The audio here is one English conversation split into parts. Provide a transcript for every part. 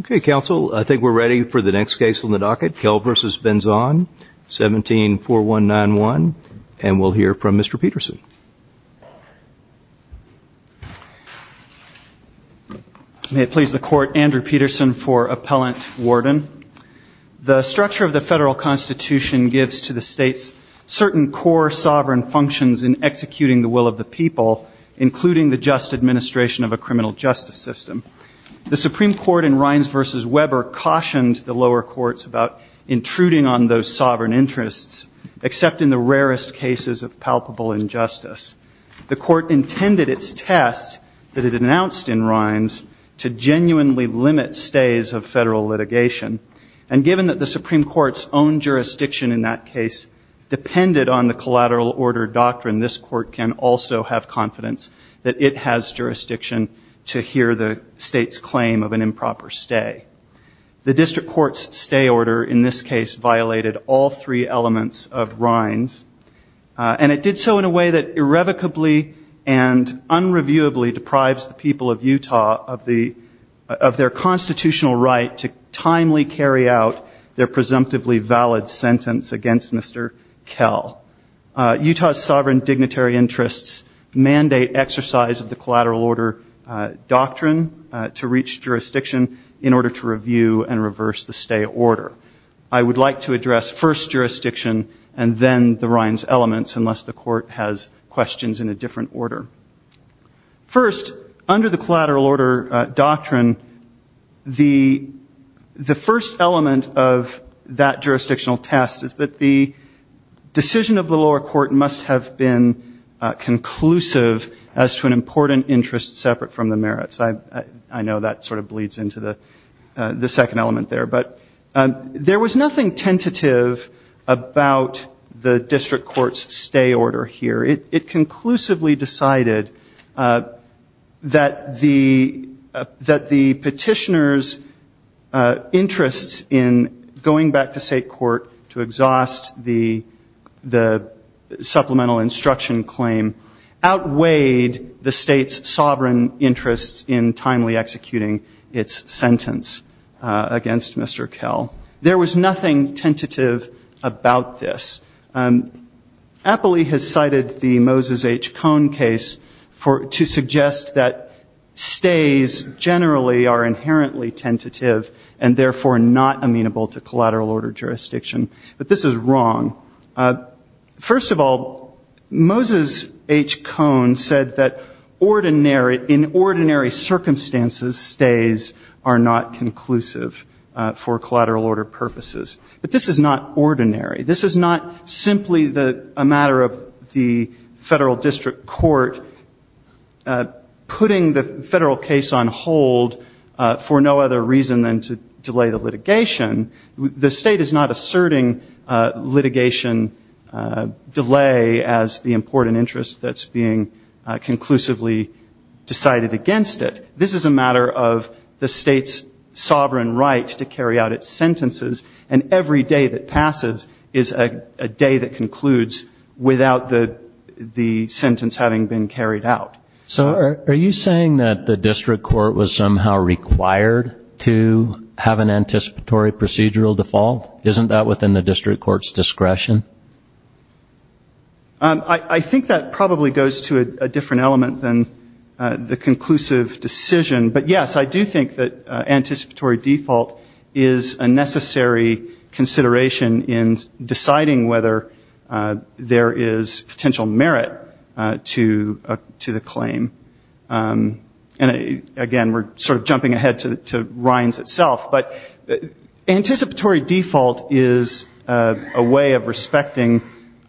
Okay, counsel, I think we're ready for the next case on the docket, Kell v. Benzon, 17-4191, and we'll hear from Mr. Peterson. May it please the court, Andrew Peterson for Appellant Warden. The structure of the federal constitution gives to the states certain core sovereign functions in executing the will of the people, including the just administration of a criminal justice system. The Supreme Court in Rines v. Weber cautioned the lower courts about intruding on those sovereign interests, except in the rarest cases of palpable injustice. The court intended its test that it announced in Rines to genuinely limit stays of federal litigation, and given that the Supreme Court's own jurisdiction in that case depended on the collateral order doctrine, this court can also have confidence that it has jurisdiction to hear the state's claim of an improper stay. The district court's stay order in this case violated all three elements of Rines, and it did so in a way that irrevocably and unreviewably deprives the people of Utah of their constitutional right to timely carry out their presumptively valid sentence against Mr. Kell. Utah's sovereign dignitary interests mandate exercise of the collateral order doctrine to reach jurisdiction in order to review and reverse the stay order. I would like to address first jurisdiction and then the Rines elements, unless the court has questions in a different order. First, under the collateral order doctrine, the first element of that jurisdictional test is that the decision of the lower court must have been conclusive as to an important interest separate from the merits. I know that sort of bleeds into the second element there, but there was nothing tentative about the district court's stay order here. It conclusively decided that the petitioner's interests in going back to state court to exhaust the supplemental instruction claim outweighed the state's sovereign interests in timely executing its sentence against Mr. Kell. There was nothing tentative about this. Appley has cited the Moses H. Cone case to suggest that stays generally are inherently tentative and therefore not amenable to collateral order jurisdiction, but this is wrong. First of all, Moses H. Cone said that in ordinary circumstances, stays are not conclusive for collateral order purposes. But this is not ordinary. This is not simply a matter of the federal district court putting the federal case on hold for no other reason than to delay the litigation. The state is not asserting litigation delay as the important interest that's being conclusively decided against it. This is a matter of the state's sovereign right to carry out its sentences, and every day that passes is a day that concludes without the sentence having been carried out. So are you saying that the district court was somehow required to have an anticipatory procedural default? Isn't that within the district court's discretion? I think that probably goes to a different element than the conclusive decision, but yes, I do think that anticipatory default is a necessary consideration in deciding whether there is potential merit to the claim. And again, we're sort of jumping ahead to Ryan's itself, but anticipatory default is a way of respecting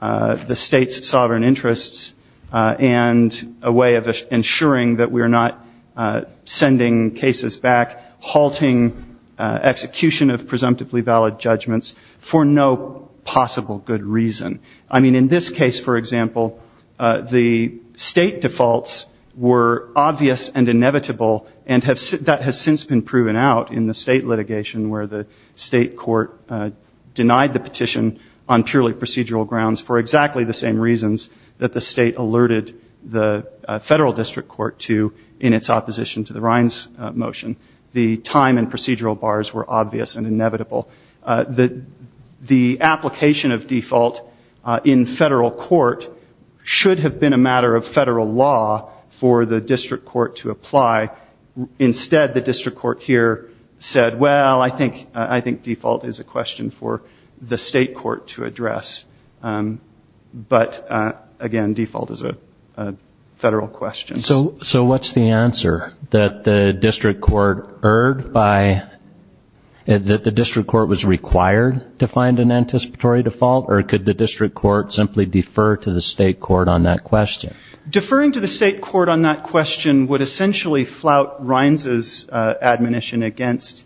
the state's sovereign interests and a way of ensuring that we're not sending cases back, halting execution of presumptively good reason. I mean, in this case, for example, the state defaults were obvious and inevitable and that has since been proven out in the state litigation where the state court denied the petition on purely procedural grounds for exactly the same reasons that the state alerted the federal district court to in its opposition to the Ryan's motion. The time and procedural bars were obvious and inevitable. The application of default in federal court should have been a matter of federal law for the district court to apply. Instead, the district court here said, well, I think default is a question for the state court to address. But again, default is a federal question. So what's the answer? That the district court erred by, that the district court was required to find an anticipatory default? Or could the district court simply defer to the state court on that question? Deferring to the state court on that question would essentially flout Ryan's admonition against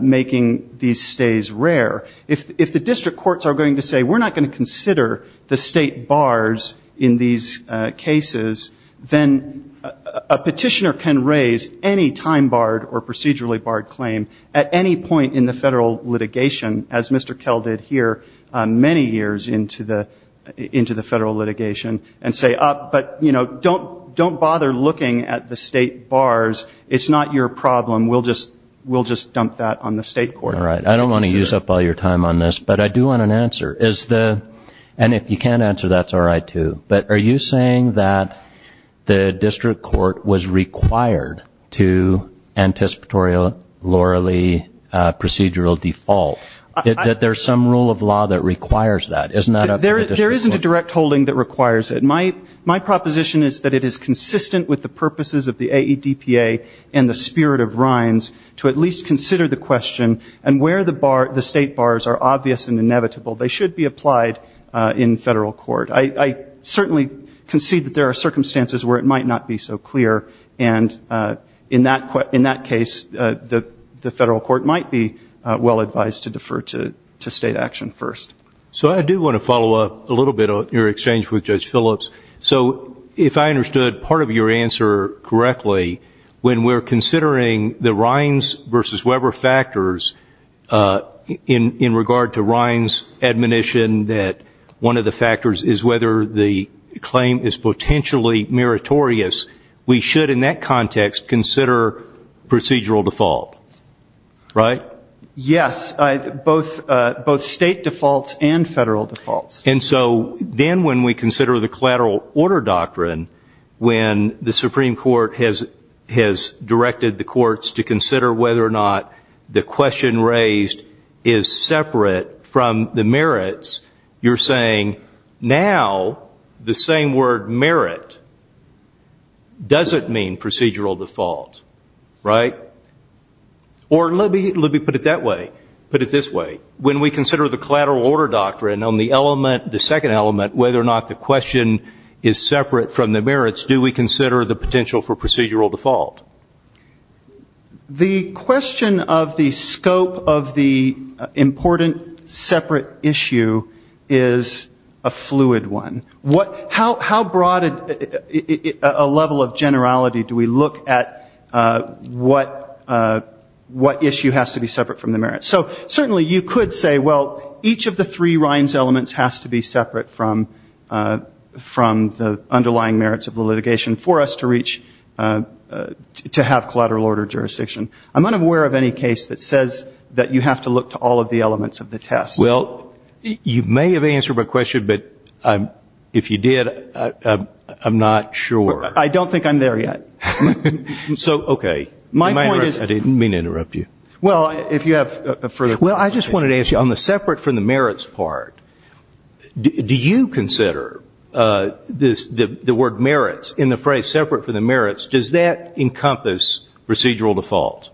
making these stays rare. If the district courts are going to say, we're not going to do that, a petitioner can raise any time barred or procedurally barred claim at any point in the federal litigation, as Mr. Kell did here many years into the federal litigation and say, but, you know, don't bother looking at the state bars. It's not your problem. We'll just dump that on the state court. All right. I don't want to use up all your time on this, but I do want an answer. And if you can't answer, that's all right, too. But are you saying that the district court was required to anticipatorily procedural default? That there's some rule of law that requires that? Isn't that up to the district court? There isn't a direct holding that requires it. My proposition is that it is consistent with the purposes of the AEDPA and the spirit of Ryan's to at least consider the question and where the state bars are obvious and inevitable. They should be applied in federal court. I certainly concede that there are circumstances where it might not be so clear. And in that case, the federal court might be well advised to defer to state action first. So I do want to follow up a little bit on your exchange with Judge Phillips. So if I can ask you a couple of factors in regard to Ryan's admonition that one of the factors is whether the claim is potentially meritorious, we should in that context consider procedural default, right? Yes. Both state defaults and federal defaults. And so then when we consider the collateral order doctrine, when the Supreme Court has directed the courts to consider whether or not the question raised is separate from the merits, you're saying now the same word merit doesn't mean procedural default, right? Or let me put it that way. Put it this way. When we consider the collateral order doctrine on the element, the second element, whether or not the question is separate from the merits, do we consider the potential for procedural default? The question of the scope of the important separate issue is a fluid one. How broad a level of generality do we look at what issue has to be separate from the merits? So certainly you could say, well, each of the three Ryan's elements has to be separate from the underlying merits of the litigation for us to reach, to have collateral order jurisdiction. I'm unaware of any case that says that you have to look to all of the elements of the test. Well, you may have answered my question, but if you did, I'm not sure. I don't think I'm there yet. So okay. My point is that I didn't mean to interrupt you. Well, if you have further questions. Well, I just wanted to ask you, on the separate from the merits part, do you consider the word merits in the phrase separate from the merits, does that encompass procedural default?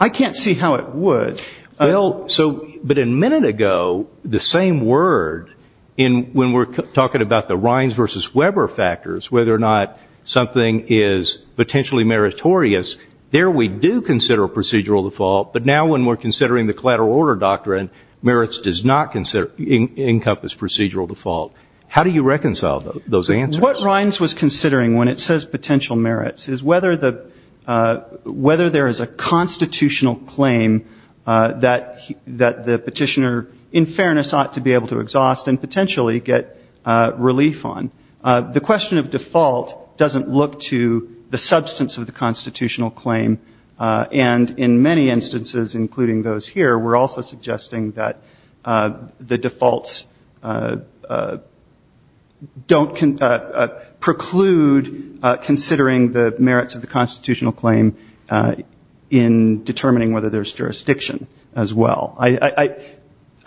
I can't see how it would. Well, so, but a minute ago, the same word, when we're talking about the Ryan's versus Weber factors, whether or not something is potentially meritorious, there we do consider procedural default, but now when we're considering the collateral order doctrine, merits does not encompass procedural default. How do you reconcile those answers? What Ryan's was considering when it says potential merits is whether there is a constitutional claim that the petitioner, in fairness, ought to be able to exhaust and potentially get relief on. The question of default doesn't look to the substance of the constitutional claim, and in many instances, including those here, we're also suggesting that the defaults don't preclude considering the merits of the constitutional claim in determining whether there's jurisdiction as well.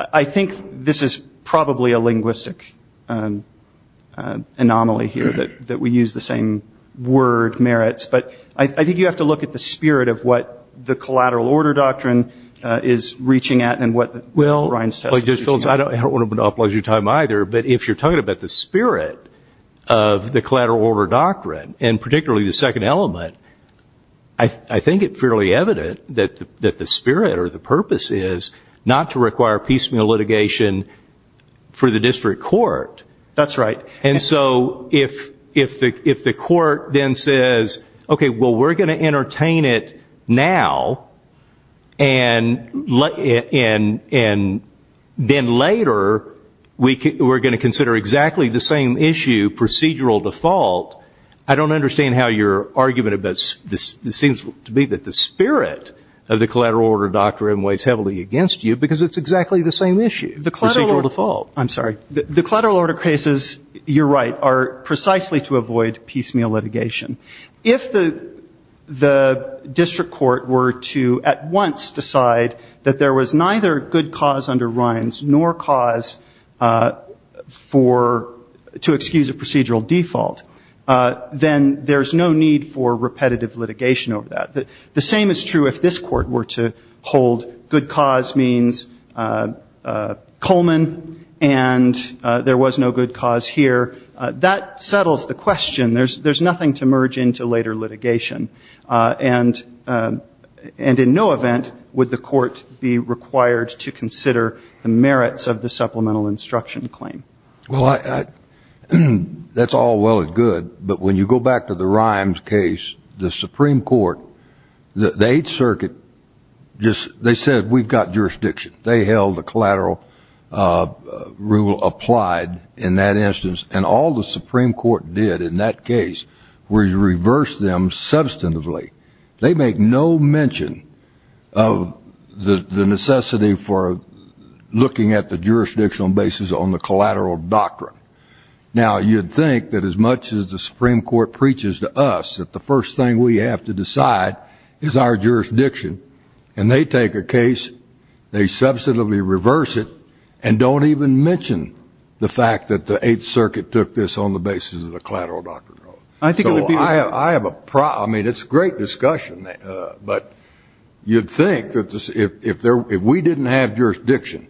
I think this is probably a linguistic anomaly here, that we use the same word merits, but I think you have to look at the spirit of what the collateral order doctrine is reaching at and what Ryan's test is reaching at. I don't want to monopolize your time either, but if you're talking about the spirit of the collateral order doctrine, and particularly the second element, I think it's fairly evident that the spirit or the purpose is not to require piecemeal litigation for the district court. That's right. And so if the court then says, okay, well, we're going to entertain it now and let the district court decide, then later we're going to consider exactly the same issue, procedural default, I don't understand how your argument about this seems to be that the spirit of the collateral order doctrine weighs heavily against you, because it's exactly the same issue, procedural default. I'm sorry. The collateral order cases, you're right, are precisely to avoid piecemeal litigation. If the district court were to at once decide that there was neither good cause under Ryan's nor cause to excuse a procedural default, then there's no need for repetitive litigation over that. The same is true if this court were to hold good cause means Coleman and there was no good cause here. That settles the question. There's nothing to merge into later litigation. And in no event would the court be required to consider the merits of the supplemental instruction claim. Well, that's all well and good, but when you go back to the Ryan's case, the Supreme Court, the Eighth Circuit, they said we've got jurisdiction. They held the collateral rule applied in that substantively. They make no mention of the necessity for looking at the jurisdictional basis on the collateral doctrine. Now you'd think that as much as the Supreme Court preaches to us that the first thing we have to decide is our jurisdiction, and they take a case, they substantively reverse it, and don't even mention the fact that the Eighth Circuit took this on the basis of the collateral doctrine. I think it would be... So I have a problem. I mean, it's a great discussion, but you'd think that if we didn't have jurisdiction,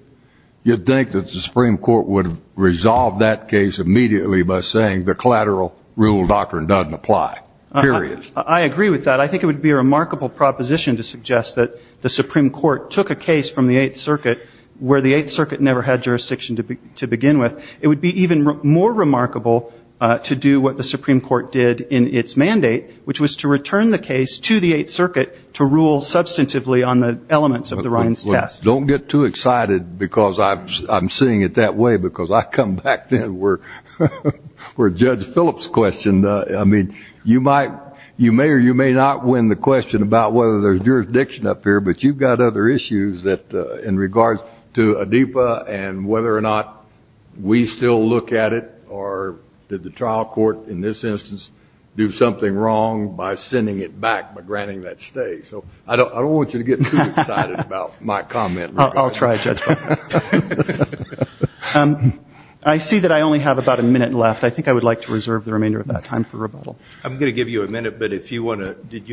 you'd think that the Supreme Court would have resolved that case immediately by saying the collateral rule doctrine doesn't apply, period. I agree with that. I think it would be a remarkable proposition to suggest that the Supreme Court took a case from the Eighth Circuit where the Eighth Circuit never had jurisdiction to begin with. It would be even more remarkable to do what the Supreme Court did in its mandate, which was to return the case to the Eighth Circuit to rule substantively on the elements of the Ryan's test. Don't get too excited because I'm seeing it that way, because I come back then where Judge Phillips questioned... I mean, you may or you may not win the question about whether there's jurisdiction up here, but you've got other issues in regards to ADIPA and whether or not we still look at it, or did the trial court in this instance do something wrong by sending it back by granting that stay? So I don't want you to get too excited about my comment. I'll try, Judge Phillips. I see that I only have about a minute left. I think I would like to reserve the remainder of that time for rebuttal. I'm going to give you a minute, but if you want to... Did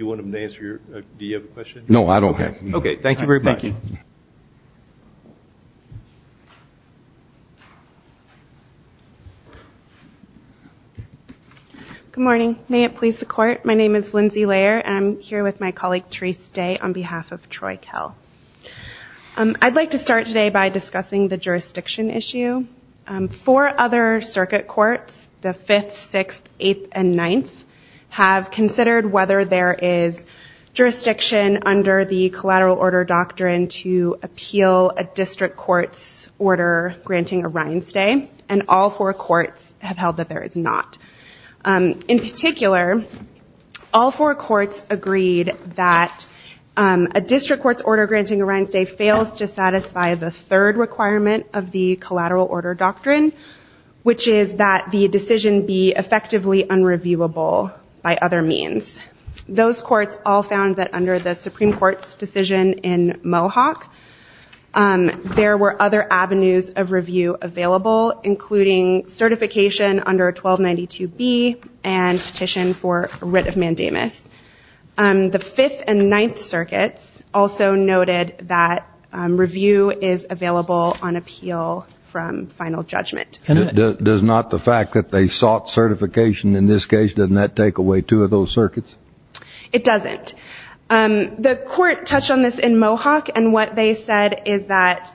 you want him to answer your... Do you have a question? No, I don't have... Okay. Thank you very much. Good morning. May it please the court. My name is Lindsay Layer, and I'm here with my colleague, Therese Day, on behalf of Troy Kell. I'd like to start today by discussing the jurisdiction issue. Four other circuit courts, the Fifth, Sixth, Eighth, and Ninth, have considered whether there is jurisdiction under the collateral order doctrine to appeal a district court's order granting a Ryan stay, and all four courts have held that there is not. In particular, all four courts agreed that a district court's order granting a Ryan stay fails to satisfy the third requirement of the collateral order doctrine, which is that the decision be effectively unreviewable by other means. Those courts all found that under the Supreme Court's decision in Mohawk, there were other avenues of review available, including certification under 1292B and petition for writ of mandamus. The Fifth and Ninth circuits also noted that review is available on appeal from final judgment. Does not the fact that they sought certification in this case, doesn't that take away two of those circuits? It doesn't. The court touched on this in Mohawk, and what they said is that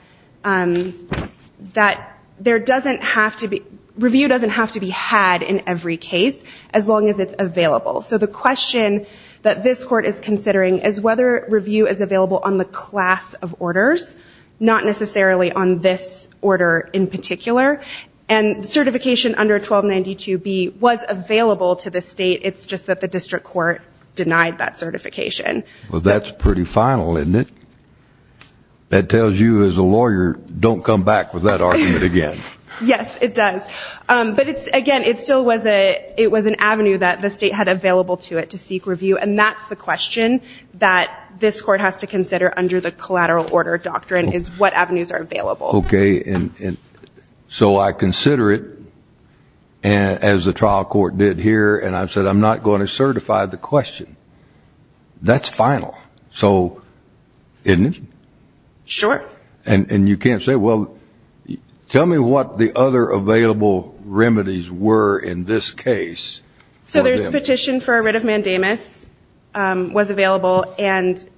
review doesn't have to be had in every case, as long as it's available. So the question that this court is considering is whether review is available on the class of orders, not necessarily on this order in particular. And certification under 1292B was available to the state, it's just that the district court denied that certification. Well, that's pretty final, isn't it? That tells you as a lawyer, don't come back with that argument again. Yes, it does. But again, it still was an avenue that the state had available to it to seek review, and that's the question that this court has to consider under the collateral order doctrine, is what avenues are available. Okay. So I consider it as the trial court did here, and I said I'm not going to certify the question. That's final. So, isn't it? Sure. And you can't say, well, tell me what the other available remedies were in this case. So there's a petition for a writ of mandamus was available, and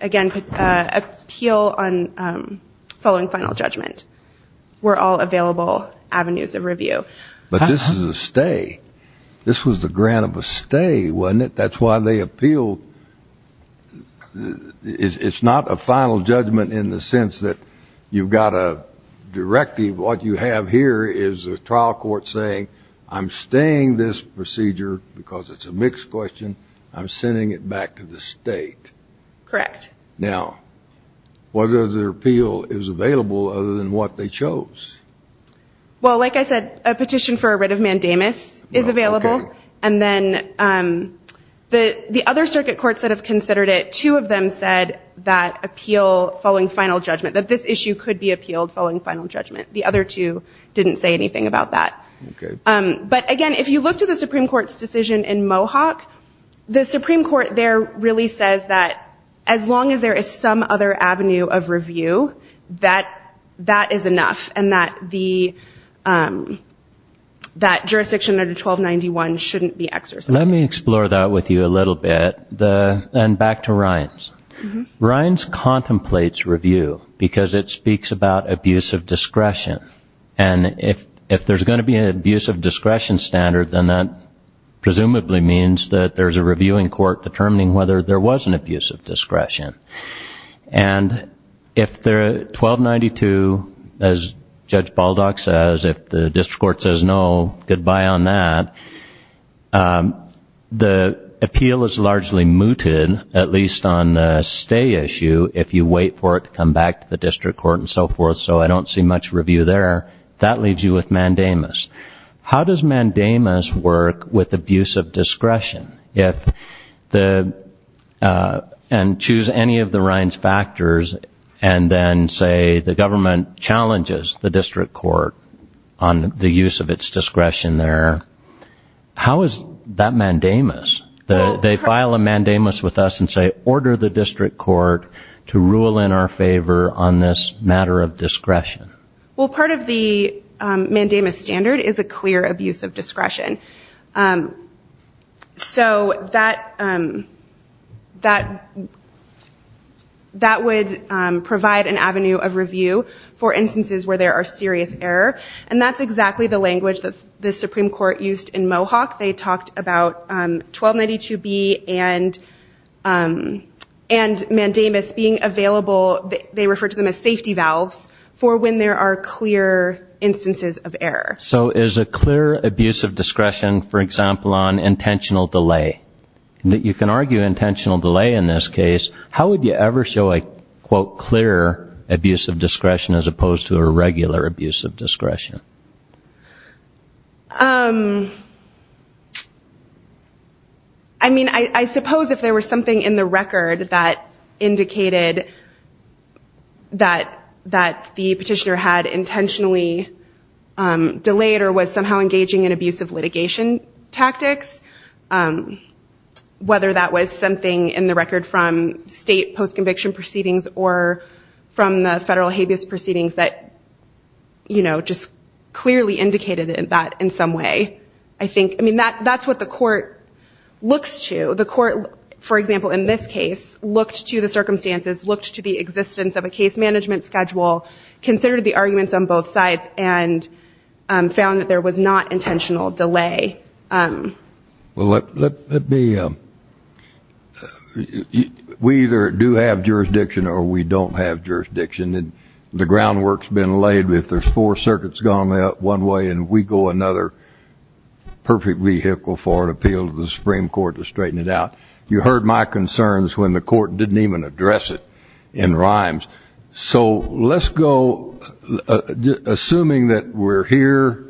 again, appeal on following final judgment were all available avenues of review. But this is a stay. This was the grant of a stay, wasn't it? That's why they appealed. It's not a final judgment in the sense that you've got a directive. What you have here is a trial court saying I'm staying this procedure because it's a mixed question. I'm sending it back to the state. Correct. Now, what other appeal is available other than what they chose? Well, like I said, a petition for a writ of mandamus is available. And then the other circuit courts that have considered it, two of them said that appeal following final judgment, that this issue could be appealed following final judgment. The other two didn't say anything about that. Okay. But again, if you look to the Supreme Court's decision in Mohawk, the Supreme Court there really says that as long as there is some other avenue of review, that that is enough and that the that jurisdiction under 1291 shouldn't be exercised. Let me explore that with you a little bit. And back to Rines. Rines contemplates review because it speaks about abuse of discretion. And if if there's going to be an abuse of discretion standard, then that presumably means that there's a reviewing court determining whether there was an abuse of discretion. And if they're 1292, as Judge Baldock says, if the district court says no, goodbye on that. The appeal is largely mooted, at least on the stay issue, if you wait for it to come back to the district court and so forth. So I don't see much review there. That leaves you with mandamus. How does mandamus work with abuse of discretion? If the and choose any of the Rines factors and then say the government challenges the district court on the use of its discretion there, how is that mandamus? They file a mandamus with us and say, order the district court to rule in our favor on this matter of discretion. Well, part of the mandamus standard is a clear abuse of discretion. So that that that would provide an avenue of review for instances where there are serious error. And that's exactly the language that the Supreme Court used in Mohawk. They talked about 1292B and mandamus being available, they refer to them as safety valves, for when there are clear instances of error. So is a clear abuse of discretion, for example, on intentional delay? You can argue intentional delay in this case. How would you ever show a, quote, clear abuse of discretion as opposed to a regular abuse of discretion? I mean, I suppose if there was something in the record that indicated that that the petitioner had intentionally delayed or was somehow engaging in abusive litigation tactics, whether that was something in the record from state post-conviction proceedings or from the federal habeas proceedings that, you know, just clearly indicated that in some way. I think, I mean, that that's what the court looks to. The court, for example, in this case, looked to the circumstances, looked to the existence of a case management schedule, considered the arguments on both sides and found that there was not intentional delay. Well, let me, we either do have jurisdiction or we don't have jurisdiction. And the ground work's been laid. If there's four circuits going one way and we go another, perfect vehicle for an appeal to the Supreme Court to straighten it out. You heard my concerns when the court didn't even address it in rhymes. So let's go, assuming that we're here,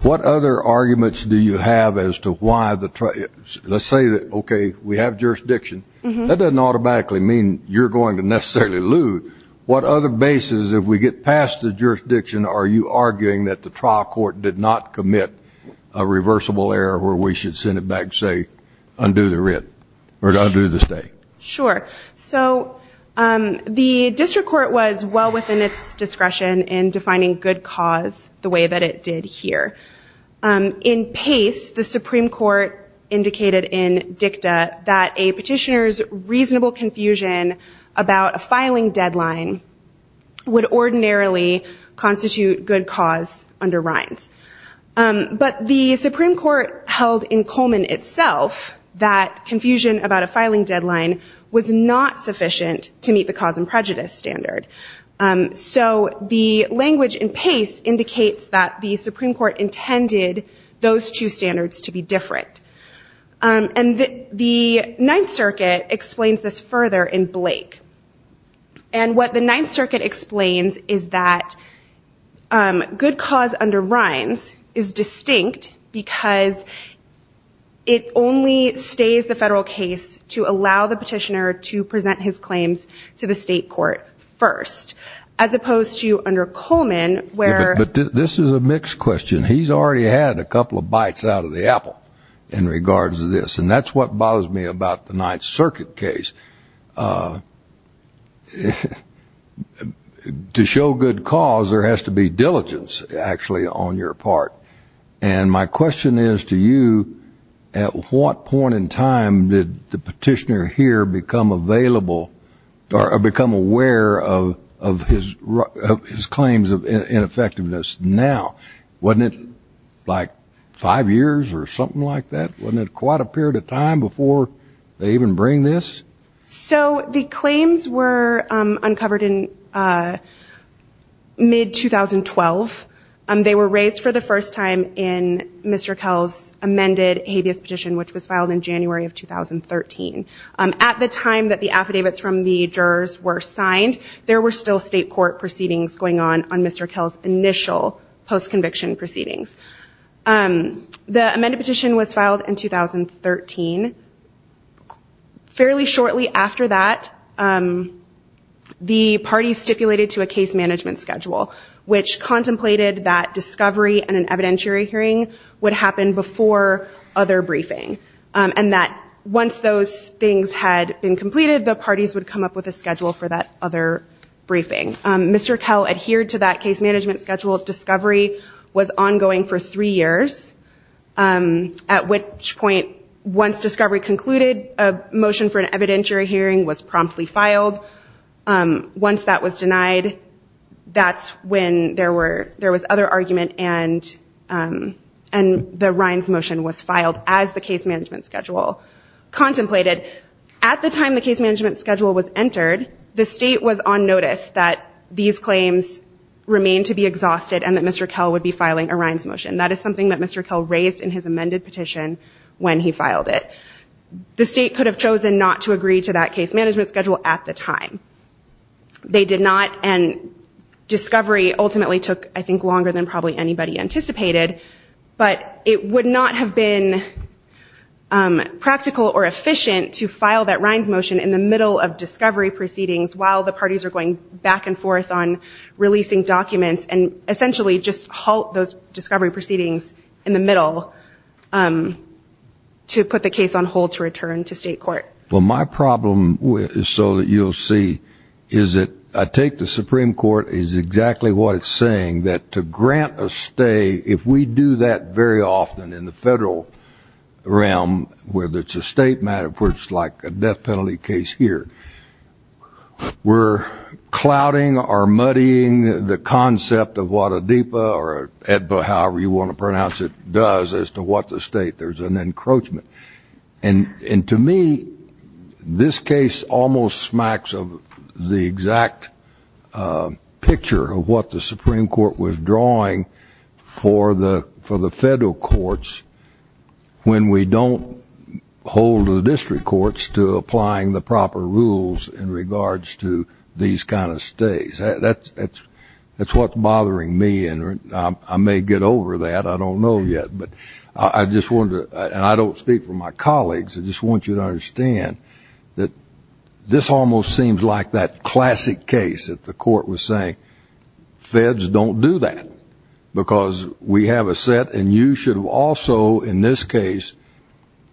what other arguments do you have as to why the, let's say that, okay, we have jurisdiction. That doesn't automatically mean you're going to necessarily lose. What other basis, if we get past the jurisdiction, are you arguing that the trial court did not commit a reversible error where we should send it back, say, undo the writ or undo the state? Sure. So the district court was well within its discretion in defining good cause the way that it did here. In pace, the Supreme Court indicated in dicta that a petitioner's reasonable confusion about a filing deadline would ordinarily constitute good cause under rhymes. But the Supreme Court held in Coleman itself that confusion about a filing deadline was not sufficient to meet the cause and prejudice standard. So the language in pace indicates that the Supreme Court intended those two standards to be different. And the Ninth Circuit explains this further in Blake. And what the Ninth Circuit explains is that good cause under rhymes is distinct because it only stays the federal case to allow the petitioner to present his claims to the state court first, as opposed to under Coleman where... in regards to this. And that's what bothers me about the Ninth Circuit case. To show good cause, there has to be diligence, actually, on your part. And my question is to you, at what point in time did the petitioner here become available or become aware of his claims of ineffectiveness now? Wasn't it like five years or something like that? Wasn't it quite a period of time before they even bring this? So the claims were uncovered in mid-2012. They were raised for the first time in Mr. Kell's amended habeas petition, which was filed in January of 2013. At the time that the affidavits from the jurors were signed, there were still state court proceedings going on on Mr. Kell's initial postconviction proceedings. The amended petition was filed in 2013. Fairly shortly after that, the parties stipulated to a case management schedule, which contemplated that discovery and an evidentiary hearing would happen before other briefing. And that once those things had been completed, the parties would come up with a schedule for that other briefing. Mr. Kell adhered to that case management schedule. Discovery was ongoing for three years, at which point, once discovery concluded, a motion for an evidentiary hearing was promptly filed. Once that was denied, that's when there was other argument and the Rhines motion was filed as the case management schedule contemplated. At the time the case management schedule was entered, the state was on notice that these claims remained to be exhausted and that Mr. Kell would be filing a Rhines motion. That is something that Mr. Kell raised in his amended petition when he filed it. The state could have chosen not to agree to that case management schedule at the time. They did not, and discovery ultimately took, I think, longer than probably anybody anticipated. But it would not have been practical or efficient to file that Rhines motion in the middle of discovery proceedings while the parties are going back and forth on releasing documents and essentially just halt those discovery proceedings in the middle to put the case on hold to return to state court. Well, my problem, so that you'll see, is that I take the Supreme Court is exactly what it's saying, that to grant a stay, if we do that very often in the federal realm, whether it's a state matter, of course, like a death penalty case here, we're clouding or muddying the concept of what a DEPA or EDPA, however you want to pronounce it, does as to what the state, there's an encroachment. And to me, this case almost smacks of the exact picture of what the Supreme Court was drawing for the federal courts when we don't hold the district courts to applying the proper rules in regards to these kind of stays. That's what's bothering me. And I may get over that. I don't know yet. But I just wonder, and I don't speak for my colleagues, I just want you to understand that this almost seems like that classic case that the court was saying, feds don't do that. Because we have a set and you should also in this case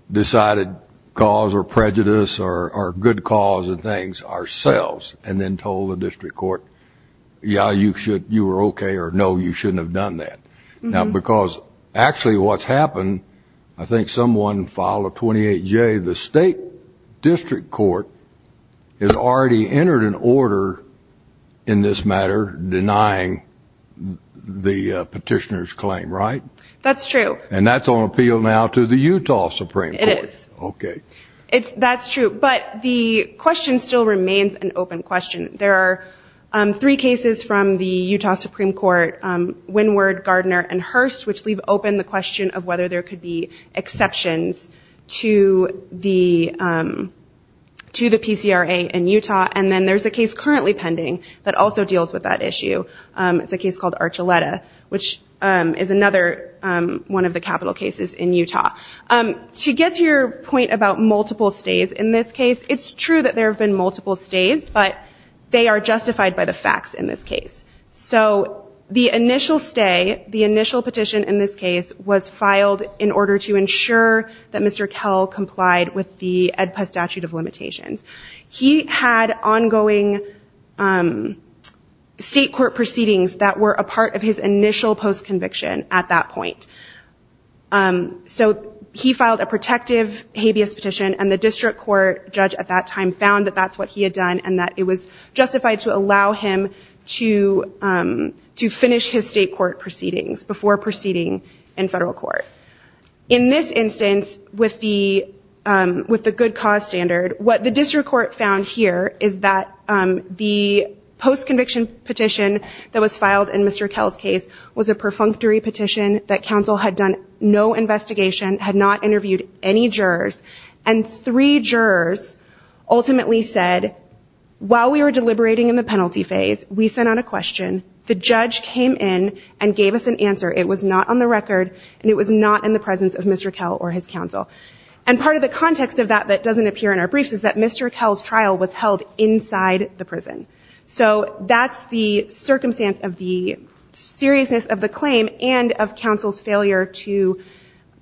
decided cause or prejudice or good cause and things ourselves and then told the district court, yeah, you should, you were okay, or no, you shouldn't have done that. Now, because actually what's happened, I think someone filed a 28J, the state district court has already entered an order in this matter denying the petitioner's claim, right? That's true. And that's on appeal now to the Utah Supreme Court. It is. That's true. But the question still remains an open question. There are three cases from the Utah Supreme Court, Wynward, Gardner, and Hurst, which leave open the question of whether there could be exceptions to the PCRA in Utah. And then there's a case currently pending that also deals with that issue. It's a case called Archuleta, which is another one of the capital cases in Utah. To get to your point about multiple stays in this case, it's true that there have been multiple stays, but they are justified by the facts in this case. So the initial stay, the initial petition in this case was filed in order to ensure that Mr. Kell complied with the EdPUS statute of limitations. He had ongoing state court proceedings that were a part of his initial post-conviction at that point. So he filed a protective habeas petition and the district court judge at that time found that that's what he had done and that it was justified to allow him to finish his state court proceedings before proceeding in federal court. In this instance, with the good cause standard, what the district court found here is that the post-conviction petition that was filed in Mr. Kell's case was a perfunctory petition that counsel had done no investigation, had not interviewed any jurors, and three jurors ultimately said, while we were deliberating in the penalty phase, we sent out a question, the judge came in and gave us an answer. It was not on the record and it was not in the presence of Mr. Kell or his counsel. And part of the context of that that doesn't appear in our briefs is that Mr. Kell's trial was held inside the prison. So that's the circumstance of the seriousness of the claim and of counsel's failure to,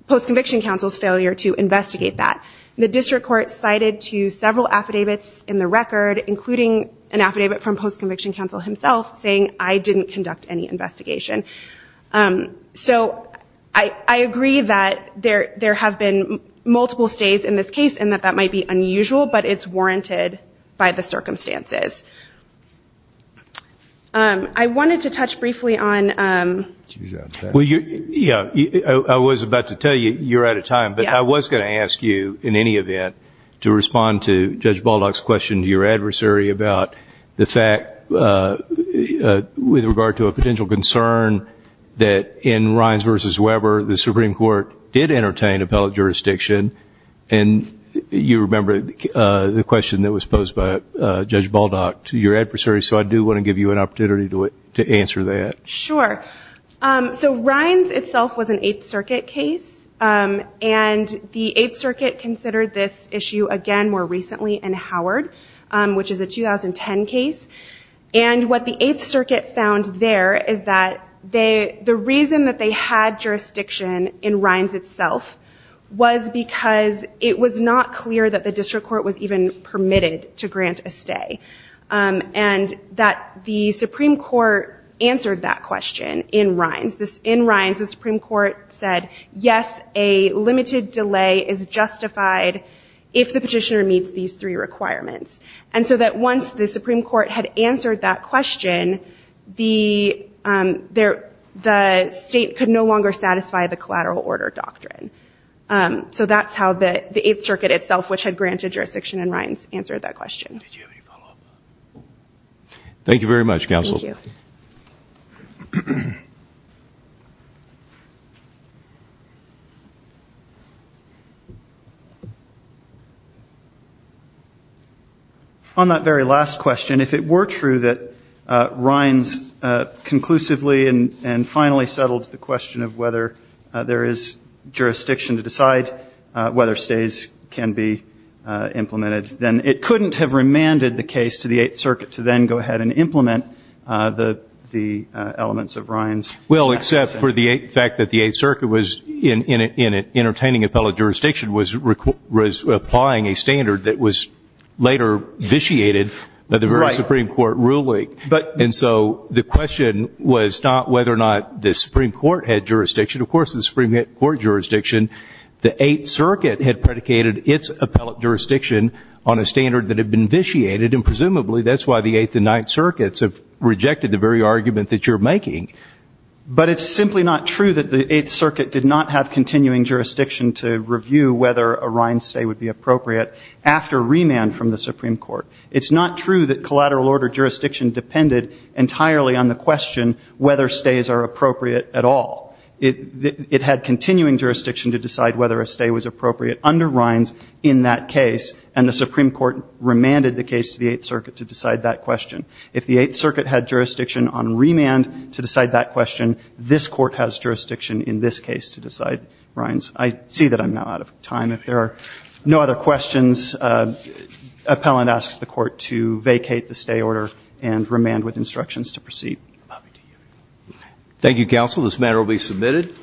post-conviction counsel's failure to investigate that. The district court cited to several affidavits in the record, including an affidavit from post-conviction counsel himself saying, I didn't conduct any investigation. So I agree that there have been multiple stays in this case and that that might be unusual, but it's warranted by the circumstances. I wanted to touch briefly on... I was about to tell you, you're out of time, but I was going to ask you, in any event, to respond to Judge Baldock's question to your adversary about the fact, with regard to a potential concern, that in Rines v. Weber, the Supreme Court did entertain appellate jurisdiction and you remember the question that was posed by Judge Baldock to your adversary, so I do want to give you an opportunity to answer that. Sure. So Rines itself was an Eighth Circuit case, and the Eighth Circuit considered this issue, again, more recently in Howard, which is a 2010 case, and what the Eighth Circuit found there is that the reason that they had jurisdiction in Rines itself was because it was not clear that the district court was even permitted to grant a stay, and that the Supreme Court answered that question in Rines. In Rines, the Supreme Court said, yes, a limited delay is justified if the petitioner meets these three requirements. And so that once the Supreme Court had answered that question, the state could no longer satisfy the collateral order doctrine. So that's how the Eighth Circuit itself, which had granted jurisdiction in Rines, answered that question. Did you have any follow-up? Thank you very much, Counsel. Thank you. On that very last question, if it were true that Rines conclusively and finally settled the question of whether there is jurisdiction to decide whether stays can be implemented, then it couldn't have remanded the case to the Eighth Circuit to then go ahead and implement the elements of Rines. Well, except for the fact that the Eighth Circuit was, in an entertaining appellate jurisdiction, was applying a standard that was later vitiated by the Supreme Court ruling. And so the question was not whether or not the Supreme Court had jurisdiction. Of course, the Supreme Court jurisdiction, the Eighth Circuit had predicated its appellate jurisdiction on a standard that had been vitiated, and presumably that's why the Eighth and Ninth Circuits have rejected the very argument that you're making. But it's simply not true that the Eighth Circuit did not have continuing jurisdiction to review whether a Rines stay would be appropriate after remand from the Supreme Court. It's not true that collateral order jurisdiction depended entirely on the question whether stays are appropriate at all. It had continuing jurisdiction to decide whether a stay was appropriate under Rines in that case, and the Supreme Court remanded the case to the Eighth Circuit to decide that question. If the Eighth Circuit had jurisdiction on remand to decide that question, this Court has jurisdiction in this case to decide Rines. I see that I'm now out of time. If there are no other questions, appellant asks the Court to vacate the stay order and remand with instructions to proceed. Thank you, counsel. This matter will be submitted.